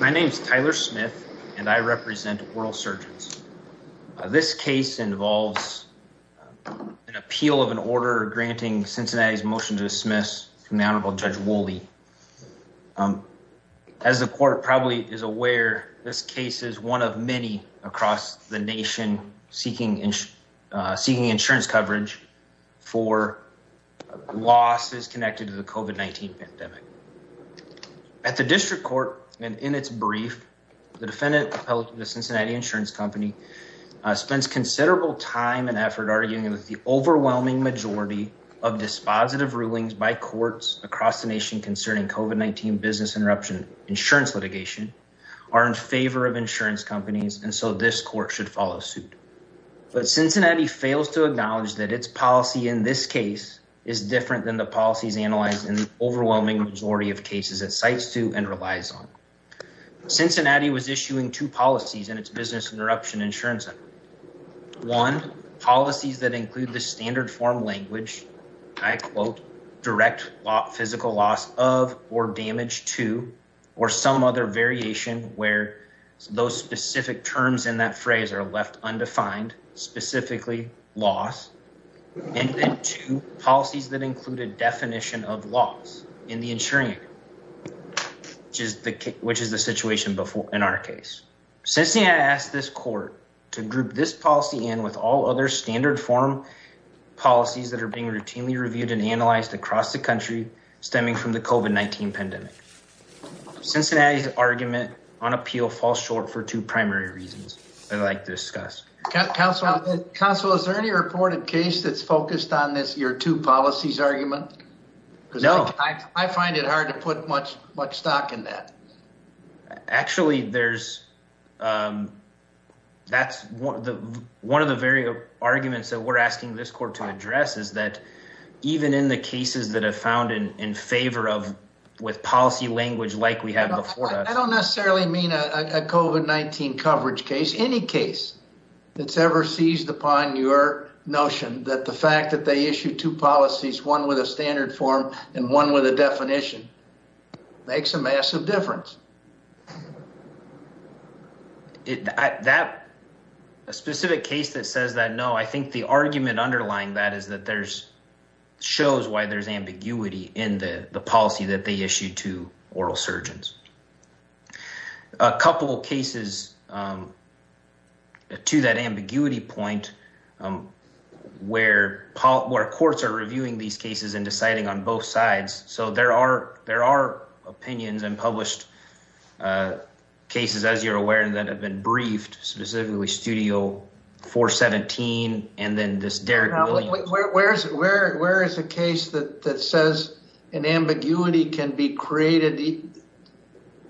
My name is Tyler Smith and I represent Oral Surgeons. This case involves an appeal of an order granting Cincinnati's motion to dismiss Honorable Judge Woolley. As the court probably is aware, this case is one of many across the nation seeking insurance coverage for losses connected to the COVID-19 pandemic. At the district court and in its brief, the defendant appealed to the Cincinnati Insurance Company, spends considerable time and effort arguing that the overwhelming majority of dispositive rulings by courts across the nation concerning COVID-19 business interruption insurance litigation are in favor of insurance companies and so this court should follow suit. But Cincinnati fails to acknowledge that its policy in this case is different than the policies analyzed in the overwhelming majority of cases it cites to and relies on. Cincinnati was issuing two policies in its business interruption insurance. One, policies that include the standard form language, I quote, direct physical loss of or damage to or some other variation where those specific terms in that phrase are left undefined, specifically loss, and then two policies that include a definition of loss in the insuring, which is the situation in our case. Cincinnati asked this court to group this policy in with all other standard form policies that are being routinely reviewed and analyzed across the country stemming from the COVID-19 pandemic. Cincinnati's argument on appeal falls short for two primary reasons I'd like to discuss. Counsel, is there any reported case that's focused on this, your two policies argument? No. I find it hard to put much stock in that. Actually there's, that's one of the very arguments that we're asking this court to address is that even in the cases that have found in favor of, with policy language like we have before us. I don't necessarily mean a COVID-19 coverage case, any case that's ever seized upon your notion that the fact that they issued two policies, one with a standard form and one with a definition makes a massive difference. A specific case that says that, no, I think the argument underlying that is that there's, shows why there's ambiguity in the policy that they issued to oral surgeons. A couple of cases to that ambiguity point where courts are reviewing these cases and published cases, as you're aware, and that have been briefed specifically Studio 417 and then this Derrick Williams. Where is a case that says an ambiguity can be created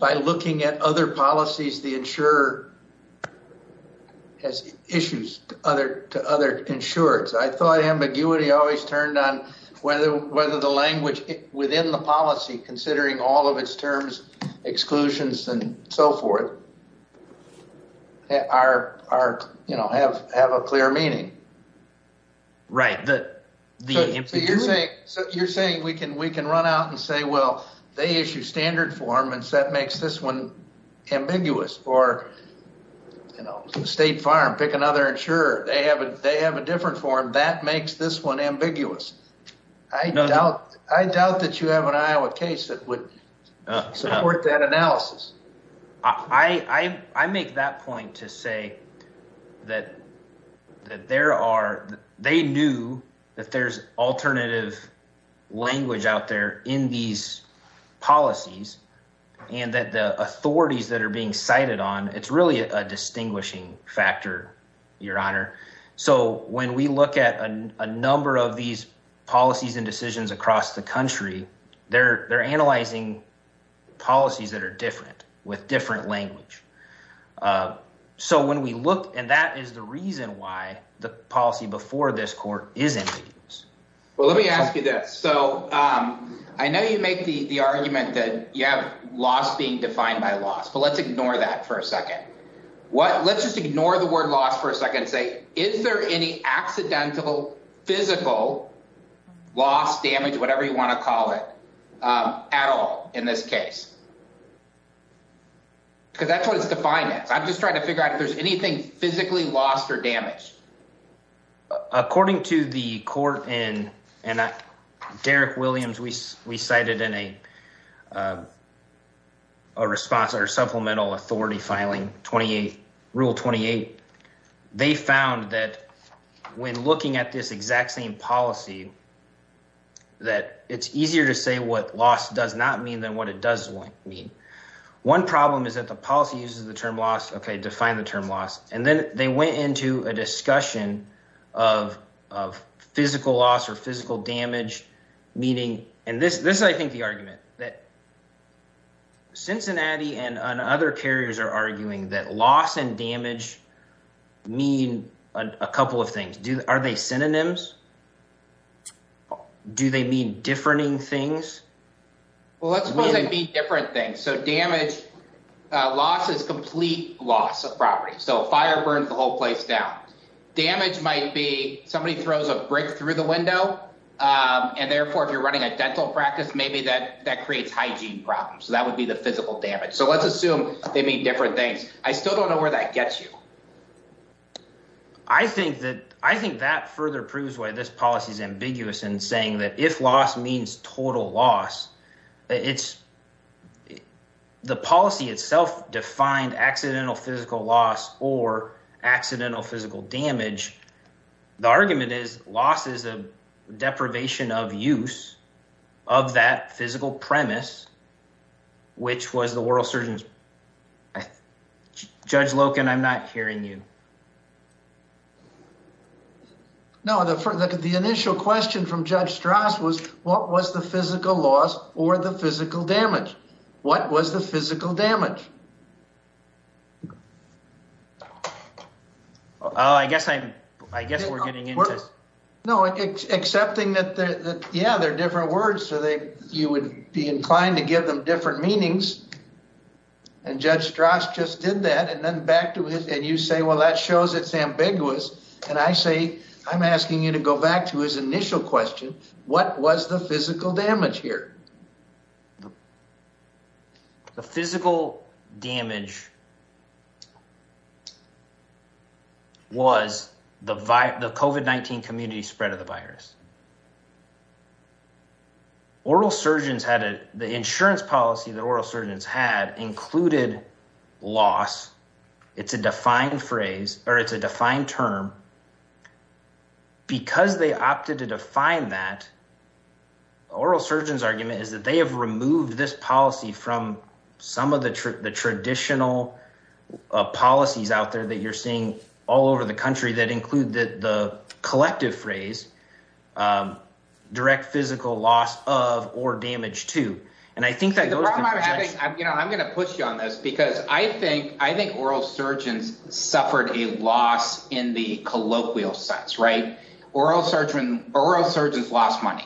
by looking at other policies the insurer has issues to other insurers? I thought ambiguity always turned on whether the language within the policy, considering all of its terms, exclusions, and so forth, have a clear meaning. Right. You're saying we can run out and say, well, they issue standard form and that makes this one ambiguous, or State Farm, pick another insurer. They have a different form. That makes this one ambiguous. I doubt that you have an Iowa case that would support that analysis. I make that point to say that there are, they knew that there's alternative language out there in these policies and that the authorities that are being cited on, it's really a distinguishing factor, your honor. When we look at a number of these policies and decisions across the country, they're analyzing policies that are different with different language. When we look, and that is the reason why the policy before this court is ambiguous. Let me ask you this. I know you make the argument that you have loss being defined by loss, but let's ignore that for a second. Let's just ignore the word loss for a second and say, is there any accidental physical loss, damage, whatever you want to call it, at all in this case, because that's what it's defined as. I'm just trying to figure out if there's anything physically lost or damaged. According to the court and Derek Williams, we cited in a response or supplemental authority filing rule 28, they found that when looking at this exact same policy, that it's easier to say what loss does not mean than what it does mean. One problem is that the policy uses the term loss, okay, define the term loss, and then they went into a discussion of physical loss or physical damage, meaning, and this is, I think, the argument, that Cincinnati and other carriers are arguing that loss and damage mean a couple of things. Are they synonyms? Do they mean differing things? Well, let's suppose they mean different things, so damage, loss is complete loss of property, so fire burns the whole place down. Damage might be somebody throws a brick through the window, and therefore, if you're running a dental practice, maybe that creates hygiene problems, so that would be the physical damage, so let's assume they mean different things. I still don't know where that gets you. I think that further proves why this policy is ambiguous in saying that if loss means total loss, the policy itself defined accidental physical loss or accidental physical damage. The argument is loss is a deprivation of use of that physical premise, which was the oral surgeon's... Judge Loken, I'm not hearing you. No, the initial question from Judge Stras was, what was the physical loss or the physical damage? What was the physical damage? Oh, I guess we're getting into... No, accepting that, yeah, they're different words, so you would be inclined to give them different meanings, and Judge Stras just did that, and then back to it, and you say, well, that shows it's ambiguous, and I say, I'm asking you to go back to his initial question, what was the physical damage here? The physical damage was the COVID-19 community spread of the virus. Now, the insurance policy that oral surgeons had included loss. It's a defined phrase, or it's a defined term. Because they opted to define that, oral surgeons' argument is that they have removed this policy from some of the traditional policies out there that you're seeing all over the country that include the collective phrase, direct physical loss of or damage to, and I think that goes... The problem I'm having, I'm going to push you on this, because I think oral surgeons suffered a loss in the colloquial sense, right? Oral surgeons lost money,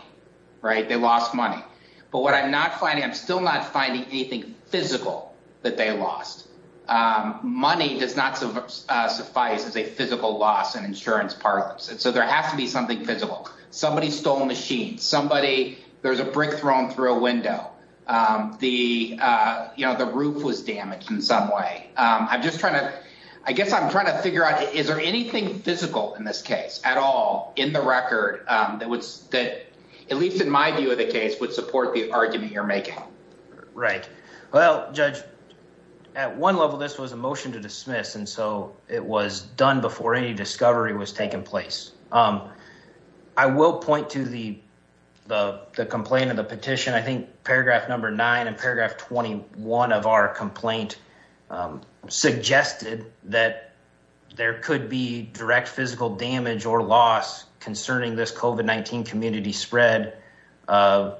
right? They lost money. But what I'm not finding, I'm still not finding anything physical that they lost. Money does not suffice as a physical loss in insurance parlance, and so there has to be something physical. Somebody stole a machine, there was a brick thrown through a window, the roof was damaged in some way. I'm just trying to... I guess I'm trying to figure out, is there anything physical in this case at all, in the record, that would, at least in my view of the case, would support the argument you're making? Right. Well, Judge, at one level, this was a motion to dismiss, and so it was done before any discovery was taking place. I will point to the complaint and the petition. I think paragraph number nine and paragraph 21 of our complaint suggested that there could be direct physical damage or loss concerning this COVID-19 community spread as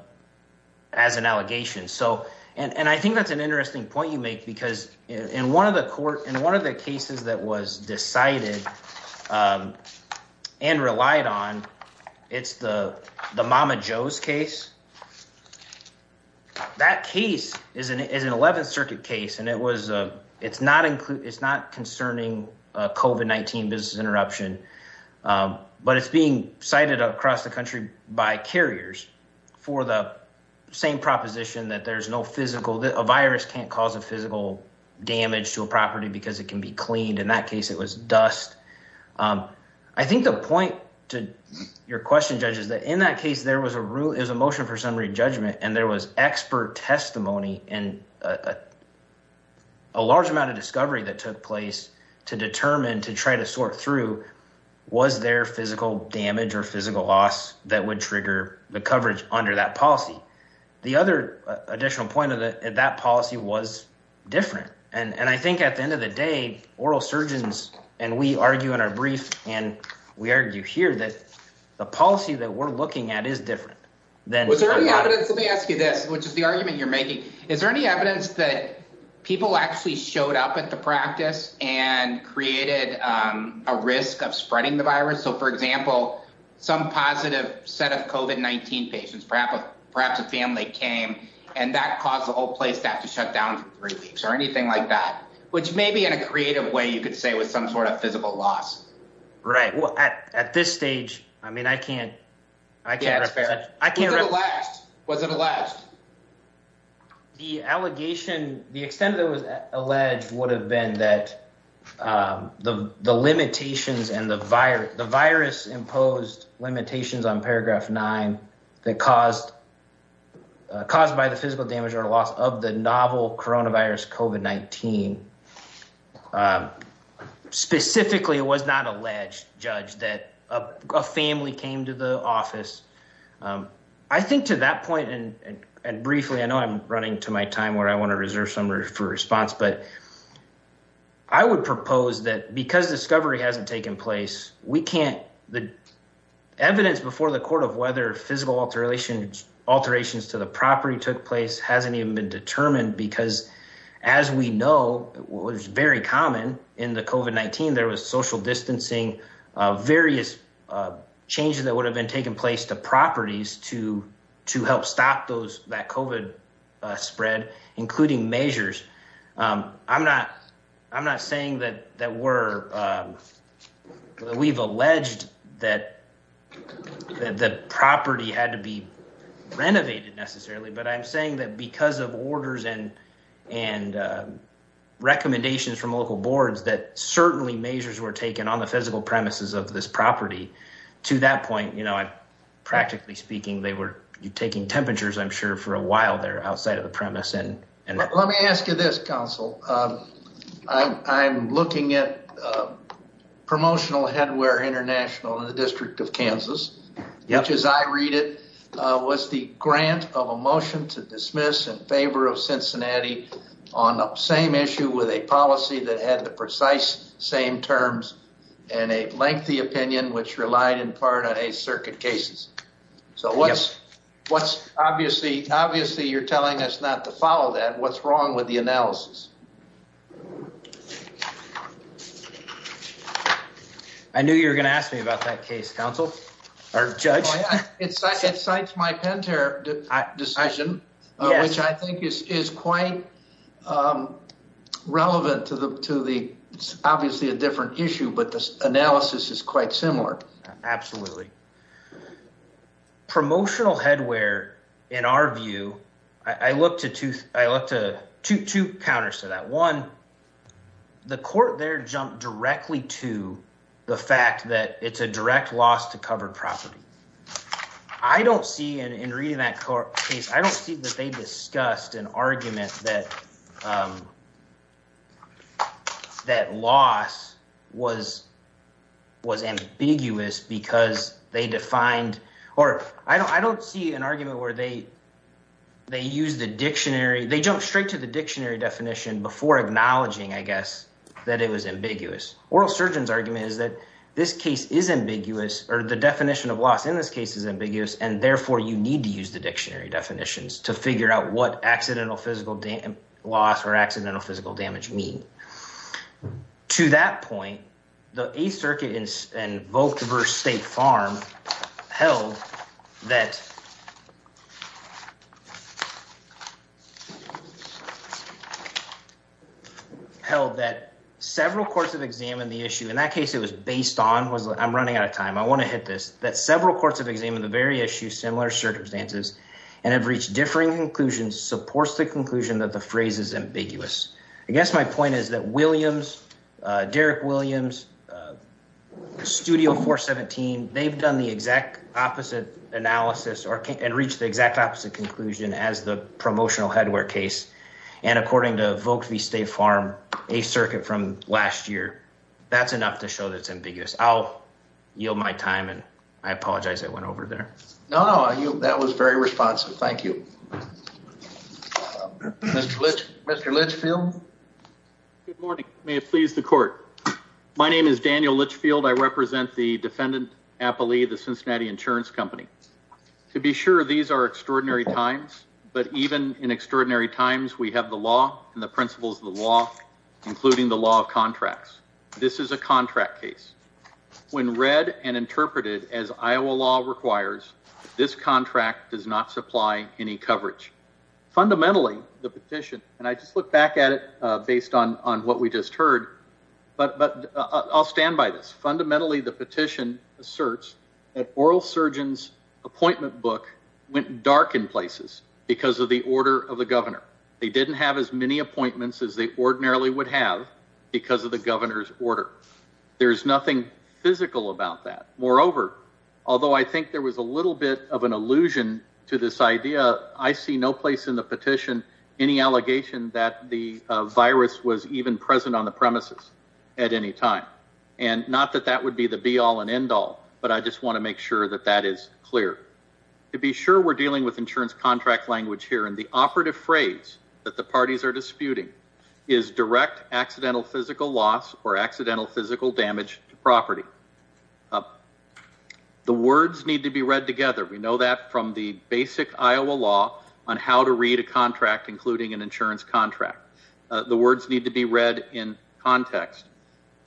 an allegation. I think that's an interesting point you make, because in one of the cases that was decided and relied on, it's the Mama Jo's case. That case is an 11th Circuit case, and it's not concerning COVID-19 business interruption, but it's being cited across the country by carriers for the same proposition that there's no physical... a virus can't cause a physical damage to a property because it can be cleaned. In that case, it was dust. I think the point to your question, Judge, is that in that case, there was a motion for summary judgment, and there was expert testimony and a large amount of discovery that took place to determine, to try to sort through, was there physical damage or physical loss that would trigger the coverage under that policy? The other additional point of that policy was different. I think at the end of the day, oral surgeons, and we argue in our brief, and we argue here that the policy that we're looking at is different than- Was there any evidence... Let me ask you this, which is the argument you're making. Is there any evidence that people actually showed up at the practice and created a risk of spreading the virus? For example, some positive set of COVID-19 patients, perhaps a family came, and that caused the whole place to have to shut down for three weeks or anything like that, which may be in a creative way, you could say, was some sort of physical loss. Right. Well, at this stage, I mean, I can't represent... I can't- Was it alleged? Was it alleged? The allegation, the extent that it was alleged would have been that the limitations and the virus-imposed limitations on paragraph nine that caused by the physical damage or loss of the novel coronavirus COVID-19, specifically it was not alleged, Judge, that a family came to the office. I think to that point, and briefly, I know I'm running to my time where I want to reserve some room for response, but I would propose that because discovery hasn't taken place, we can't... The evidence before the court of whether physical alterations to the property took place hasn't even been determined because as we know, what was very common in the COVID-19, there was social distancing, various changes that would have been taking place to properties to help stop that COVID spread, including measures. I'm not saying that we've alleged that the property had to be renovated necessarily, but I'm saying that because of orders and recommendations from local boards that certainly measures were taken on the physical premises of this property. To that point, practically speaking, they were taking temperatures, I'm sure, for a while there outside of the premise. Let me ask you this, counsel. I'm looking at Promotional Headwear International in the District of Kansas, which as I read it, was the grant of a motion to dismiss in favor of Cincinnati on the same issue with a policy that had the precise same terms and a lengthy opinion, which relied in part on a circuit cases. Yes. Obviously, you're telling us not to follow that. What's wrong with the analysis? I knew you were going to ask me about that case, counsel, or judge. It cites my Penta decision, which I think is quite relevant to the, obviously, a different issue, but the analysis is quite similar. Absolutely. Promotional Headwear, in our view, I look to two counters to that. One, the court there jumped directly to the fact that it's a direct loss to covered property. I don't see, in reading that case, I don't see that they discussed an argument that loss was ambiguous because they defined, or I don't see an argument where they used the dictionary. Definition before acknowledging, I guess, that it was ambiguous. Oral Surgeon's argument is that this case is ambiguous, or the definition of loss in this case is ambiguous, and therefore, you need to use the dictionary definitions to figure out what accidental physical loss or accidental physical damage mean. To that point, the Eighth Circuit invoked versus State Farm held that several courts have examined the issue. In that case, it was based on, I'm running out of time, I want to hit this, that several courts have examined the very issue, similar circumstances, and have reached differing conclusions supports the conclusion that the phrase is ambiguous. I guess my point is that Williams, Derrick Williams, Studio 417, they've done the exact opposite analysis and reached the exact opposite conclusion as the promotional headwear case, and according to Volk v. State Farm, Eighth Circuit from last year, that's enough to show that it's ambiguous. I'll yield my time, and I apologize I went over there. No, no, that was very responsive. Thank you. Mr. Litchfield? Good morning. May it please the court. My name is Daniel Litchfield. I represent the defendant, Apolli, the Cincinnati Insurance Company. To be sure, these are extraordinary times, but even in extraordinary times, we have the law and the principles of the law, including the law of contracts. This is a contract case. When read and interpreted as Iowa law requires, this contract does not supply any coverage. Fundamentally, the petition, and I just look back at it based on what we just heard, but I'll stand by this. Fundamentally, the petition asserts that Oral Surgeon's appointment book went dark in places because of the order of the governor. They didn't have as many appointments as they ordinarily would have because of the governor's order. There's nothing physical about that. Moreover, although I think there was a little bit of an allusion to this idea, I see no place in the petition, any allegation that the virus was even present on the premises at any time. And not that that would be the be-all and end-all, but I just want to make sure that that is clear. To be sure, we're dealing with insurance contract language here, and the operative phrase that the parties are disputing is direct accidental physical loss or accidental physical damage to property. The words need to be read together. We know that from the basic Iowa law on how to read a contract, including an insurance contract. The words need to be read in context.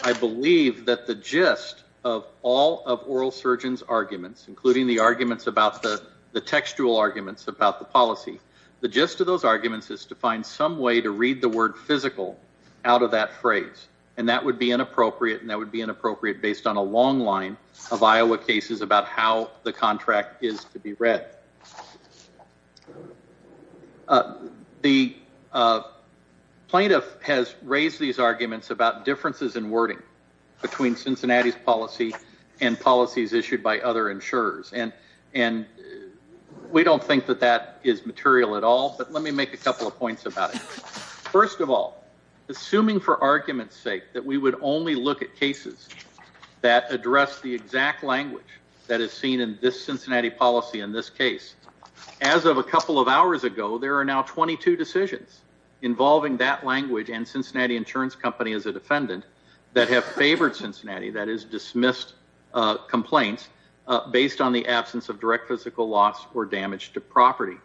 I believe that the gist of all of Oral Surgeon's arguments, including the arguments about the textual arguments about the policy, the gist of those arguments is to find some way to read the word physical out of that phrase. And that would be inappropriate, and that would be inappropriate based on a long line of Iowa cases about how the contract is to be read. The plaintiff has raised these arguments about differences in wording between Cincinnati's policy and policies issued by other insurers. And we don't think that that is material at all, but let me make a couple of points about it. First of all, assuming for argument's sake that we would only look at cases that address the exact language that is seen in this Cincinnati policy in this case, as of a couple of hours ago, there are now 22 decisions involving that language and Cincinnati Insurance Company as a defendant that have favored Cincinnati, that is, dismissed complaints based on the absence of direct physical loss or damage to property.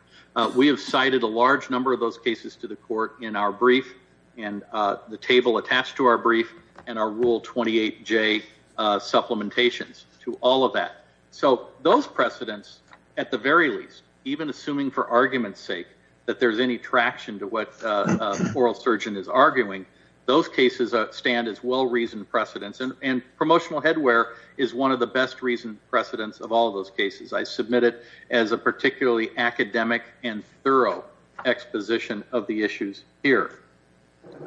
We have cited a large number of those cases to the court in our brief and the table attached to our brief and our Rule 28J supplementations to all of that. So those precedents, at the very least, even assuming for argument's sake that there's any traction to what the oral surgeon is arguing, those cases stand as well-reasoned precedents, and promotional headwear is one of the best-reasoned precedents of all of those cases. I submit it as a particularly academic and thorough exposition of the issues here.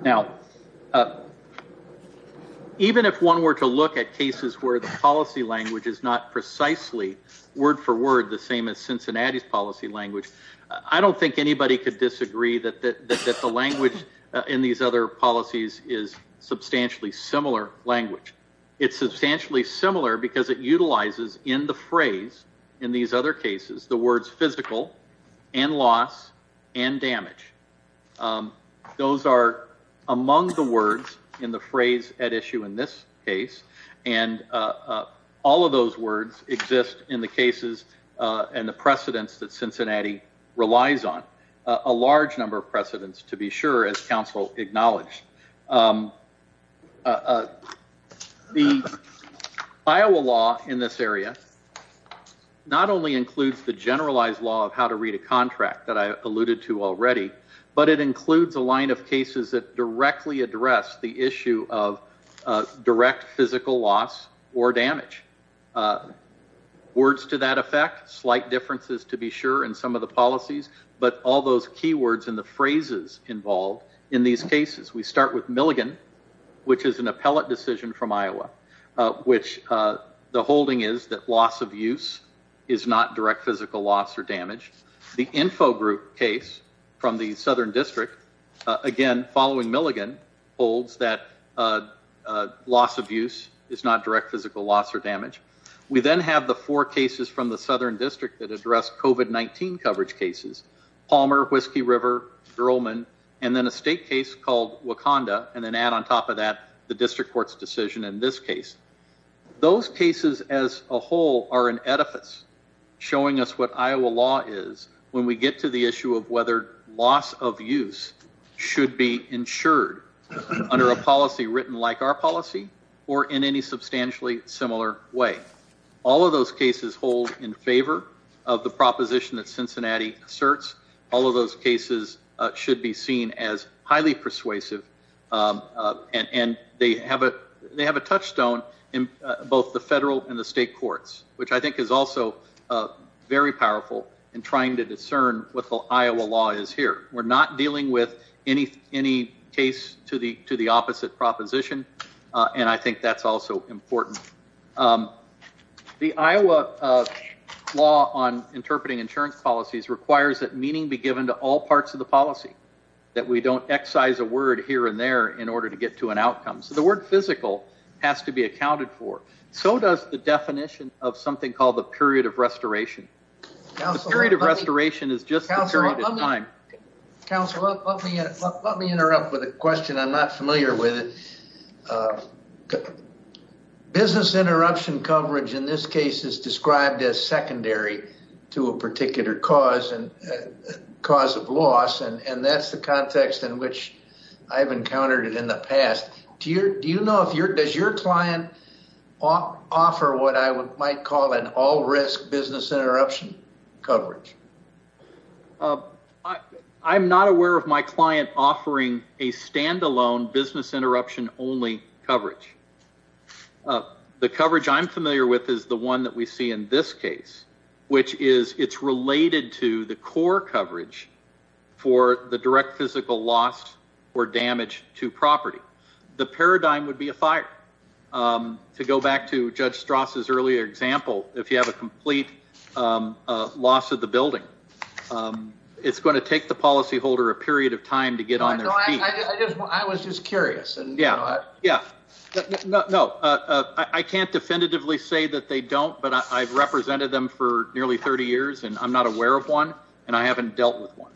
Now, even if one were to look at cases where the policy language is not precisely word-for-word the same as Cincinnati's policy language, I don't think anybody could disagree that the language in these other policies is substantially similar language. It's substantially similar because it utilizes in the phrase in these other cases the words physical and loss and damage. Those are among the words in the phrase at issue in this case, and all of those words exist in the cases and the precedents that Cincinnati relies on, a large number of precedents, to be sure, as counsel acknowledged. The Iowa law in this area not only includes the generalized law of how to read a contract that I alluded to already, but it includes a line of cases that directly address the Words to that effect, slight differences to be sure in some of the policies, but all those key words in the phrases involved in these cases. We start with Milligan, which is an appellate decision from Iowa, which the holding is that loss of use is not direct physical loss or damage. The Infogroup case from the Southern District, again, following Milligan, holds that loss of use is not direct physical loss or damage. We then have the four cases from the Southern District that address COVID-19 coverage cases, Palmer, Whiskey River, Drolman, and then a state case called Wakanda, and then add on top of that the District Court's decision in this case. Those cases as a whole are in edifice, showing us what Iowa law is when we get to the issue of whether loss of use should be insured under a policy written like our policy or in any substantially similar way. All of those cases hold in favor of the proposition that Cincinnati asserts. All of those cases should be seen as highly persuasive, and they have a touchstone in both the federal and the state courts, which I think is also very powerful in trying to discern what the Iowa law is here. We're not dealing with any case to the opposite proposition, and I think that's also important. The Iowa law on interpreting insurance policies requires that meaning be given to all parts of the policy, that we don't excise a word here and there in order to get to an outcome. The word physical has to be accounted for. So does the definition of something called the period of restoration. The period of restoration is just the period of time. Counselor, let me interrupt with a question I'm not familiar with. Business interruption coverage in this case is described as secondary to a particular cause of loss, and that's the context in which I've encountered it in the past. Do you know, does your client offer what I might call an all risk business interruption coverage? I'm not aware of my client offering a standalone business interruption only coverage. The coverage I'm familiar with is the one that we see in this case, which is it's related to the core coverage for the direct physical loss or damage to property. The paradigm would be a fire. To go back to Judge Strauss's earlier example, if you have a complete loss of the building, it's going to take the policyholder a period of time to get on their feet. I was just curious. I can't definitively say that they don't, but I've represented them for nearly 30 years, and I'm not aware of one, and I haven't dealt with one.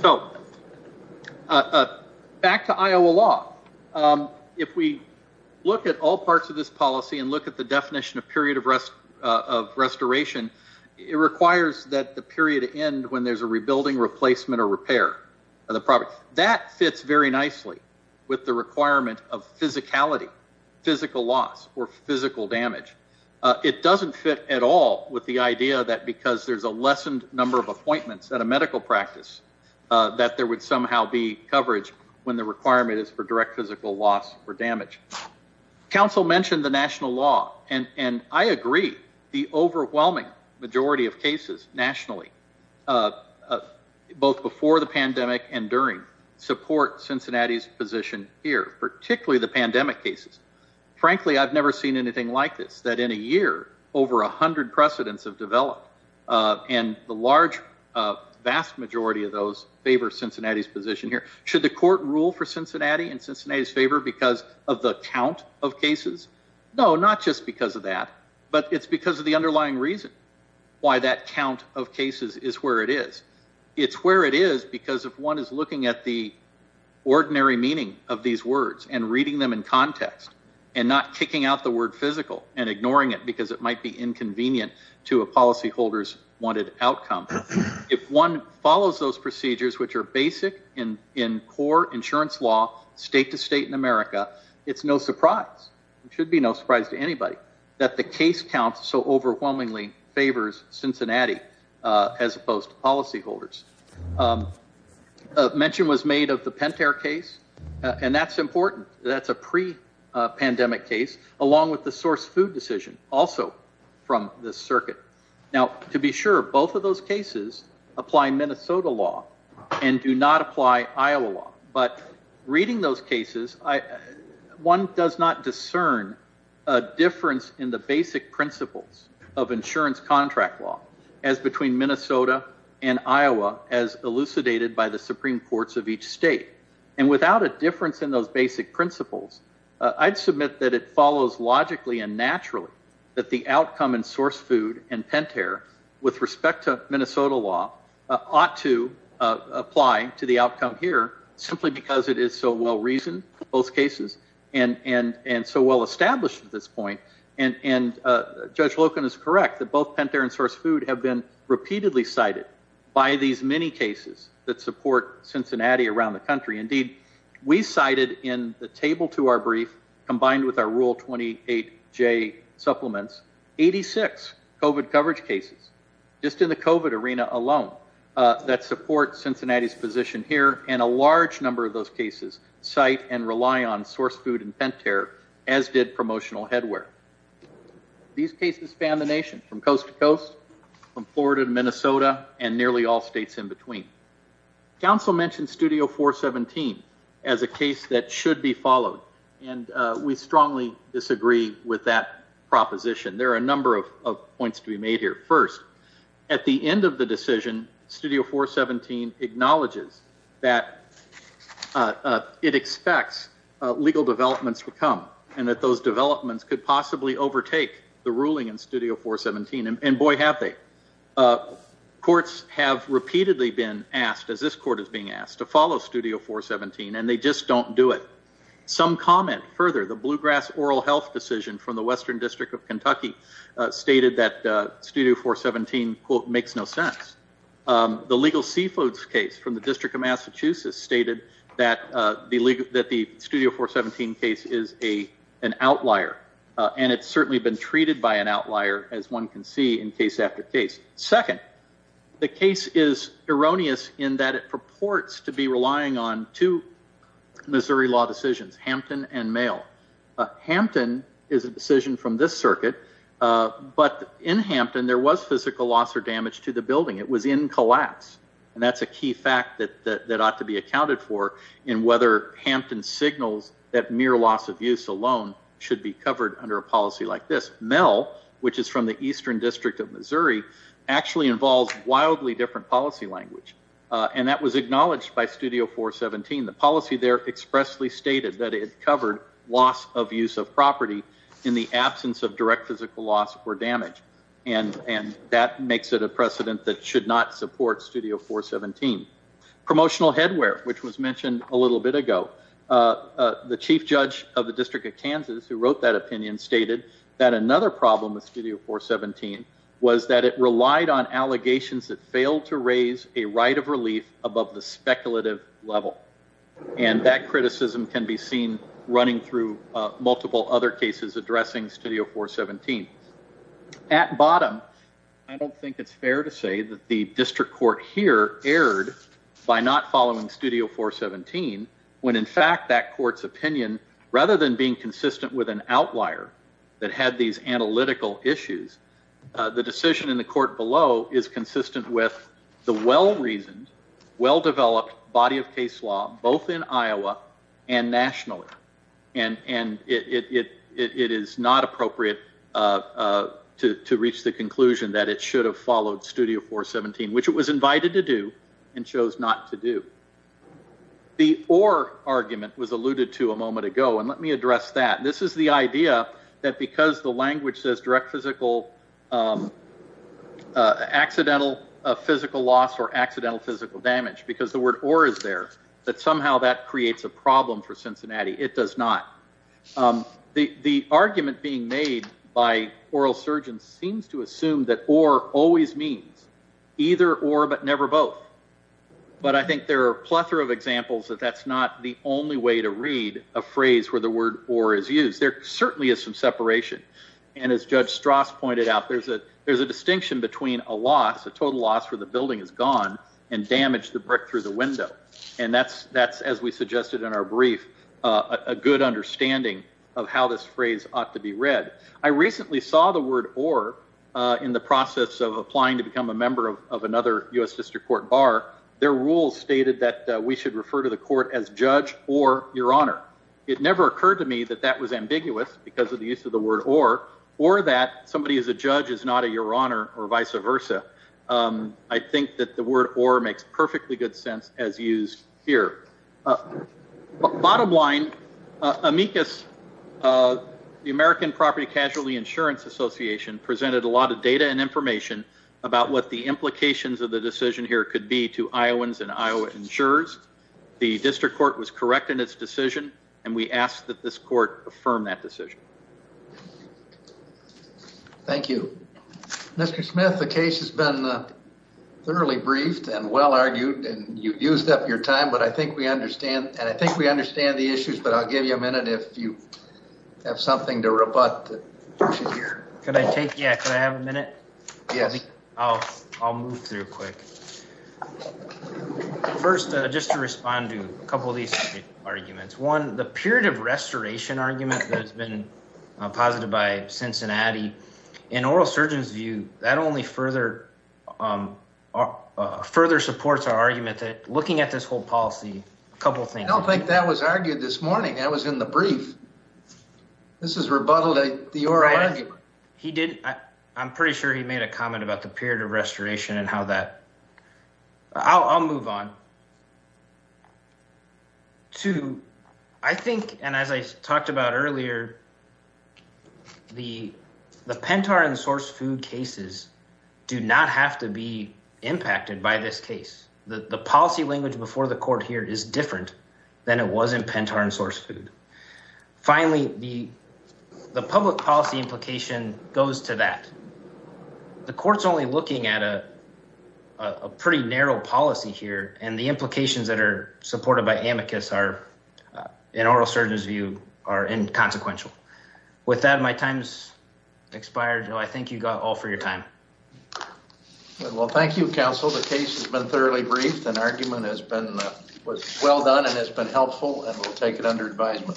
So, back to Iowa law, if we look at all parts of this policy and look at the definition of period of restoration, it requires that the period end when there's a rebuilding, replacement, or repair of the property. That fits very nicely with the requirement of physicality, physical loss, or physical damage. It doesn't fit at all with the idea that because there's a lessened number of appointments at a medical practice that there would somehow be coverage when the requirement is for direct physical loss or damage. Council mentioned the national law, and I agree. The overwhelming majority of cases nationally, both before the pandemic and during, support Cincinnati's position here, particularly the pandemic cases. Frankly, I've never seen anything like this, that in a year, over 100 precedents have developed, and the vast majority of those favor Cincinnati's position here. Should the court rule for Cincinnati in Cincinnati's favor because of the count of cases? No, not just because of that, but it's because of the underlying reason why that count of cases is where it is. It's where it is because if one is looking at the ordinary meaning of these words and reading them in context and not kicking out the word physical and ignoring it because it might be inconvenient to a policyholder's wanted outcome, if one follows those procedures which are basic in core insurance law, state-to-state in America, it's no surprise. It should be no surprise to anybody that the case count so overwhelmingly favors Cincinnati as opposed to policyholders. A mention was made of the Pentair case, and that's important. That's a pre-pandemic case, along with the source food decision, also from this circuit. Now, to be sure, both of those cases apply Minnesota law and do not apply Iowa law. But reading those cases, one does not discern a difference in the basic principles of insurance contract law as between Minnesota and Iowa as elucidated by the Supreme Courts of each state. And without a difference in those basic principles, I'd submit that it follows logically and naturally that the outcome in source food and Pentair with respect to Minnesota law ought to apply to the outcome here simply because it is so well-reasoned, both cases, and so well-established at this point. And Judge Loken is correct that both Pentair and source food have been repeatedly cited by these many cases that support Cincinnati around the country. Indeed, we cited in the table to our brief, combined with our Rule 28J supplements, 86 COVID coverage cases just in the COVID arena alone that support Cincinnati's position here, and a large number of those cases cite and rely on source food and Pentair, as did promotional headwear. These cases span the nation from coast to coast, from Florida to Minnesota, and nearly all states in between. Council mentioned Studio 417 as a case that should be followed, and we strongly disagree with that proposition. There are a number of points to be made here. First, at the end of the decision, Studio 417 acknowledges that it expects legal developments would come, and that those developments could possibly overtake the ruling in Studio 417, and boy, have they. Courts have repeatedly been asked, as this court is being asked, to follow Studio 417, and they just don't do it. Some comment further, the Bluegrass Oral Health decision from the Western District of Kentucky stated that Studio 417, quote, makes no sense. The legal seafoods case from the District of Massachusetts stated that the Studio 417 case is an outlier, and it's certainly been treated by an outlier, as one can see in case after case. Second, the case is erroneous in that it purports to be relying on two Missouri law decisions, Hampton and Mayo. Hampton is a decision from this circuit, but in Hampton, there was physical loss or damage to the building. It was in collapse, and that's a key fact that ought to be accounted for in whether Hampton signals that mere loss of use alone should be covered under a policy like this. Mel, which is from the Eastern District of Missouri, actually involves wildly different policy language, and that was acknowledged by Studio 417. The policy there expressly stated that it covered loss of use of property in the absence of direct physical loss or damage, and that makes it a precedent that should not support Studio 417. Promotional headwear, which was mentioned a little bit ago. The chief judge of the District of Kansas, who wrote that opinion, stated that another problem with Studio 417 was that it relied on allegations that failed to raise a right of relief above the speculative level, and that criticism can be seen running through multiple other cases addressing Studio 417. At bottom, I don't think it's fair to say that the district court here erred by not following Studio 417, when, in fact, that court's opinion, rather than being consistent with an outlier that had these analytical issues, the decision in the court below is consistent with the well-reasoned, well-developed body of case law, both in Iowa and nationally, and it is not appropriate to reach the conclusion that it should have followed Studio 417, which it was invited to do and chose not to do. The or argument was alluded to a moment ago, and let me address that. This is the idea that because the language says direct physical, accidental physical loss or accidental physical damage, because the word or is there, that somehow that creates a problem for Cincinnati. It does not. The argument being made by oral surgeons seems to assume that or always means either or but never both, but I think there are a plethora of examples that that's not the only way to read a phrase where the word or is used. There certainly is some separation, and as Judge Strauss pointed out, there's a distinction between a loss, a total loss, where the building is gone and damage, the brick through the a good understanding of how this phrase ought to be read. I recently saw the word or in the process of applying to become a member of another U.S. District Court bar. Their rules stated that we should refer to the court as judge or your honor. It never occurred to me that that was ambiguous because of the use of the word or or that somebody is a judge is not a your honor or vice versa. I think that the word or makes perfectly good sense as used here. Bottom line, Amicus, the American Property Casualty Insurance Association, presented a lot of data and information about what the implications of the decision here could be to Iowans and Iowa insurers. The district court was correct in its decision, and we ask that this court affirm that decision. Thank you, Mr. Smith. The case has been thoroughly briefed and well argued, and you've used up your time, but and I think we understand the issues, but I'll give you a minute if you have something to rebut that you should hear. Could I take, yeah, could I have a minute? Yes. I'll move through quick. First, just to respond to a couple of these arguments. One, the period of restoration argument that has been posited by Cincinnati, in oral surgeon's That only further supports our argument that looking at this whole policy, a couple of things. I don't think that was argued this morning. That was in the brief. This is rebuttal to the oral argument. He didn't, I'm pretty sure he made a comment about the period of restoration and how that. I'll move on. Two, I think, and as I talked about earlier, the Pentar and source food cases do not have to be impacted by this case. The policy language before the court here is different than it was in Pentar and source food. Finally, the public policy implication goes to that. The court's only looking at a pretty narrow policy here and the implications that are supported by amicus are, in oral surgeon's view, are inconsequential. With that, my time's expired. I thank you all for your time. Well, thank you, counsel. The case has been thoroughly briefed and argument has been well done and has been helpful and we'll take it under advisement.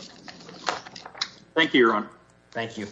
Thank you, your honor. Thank you.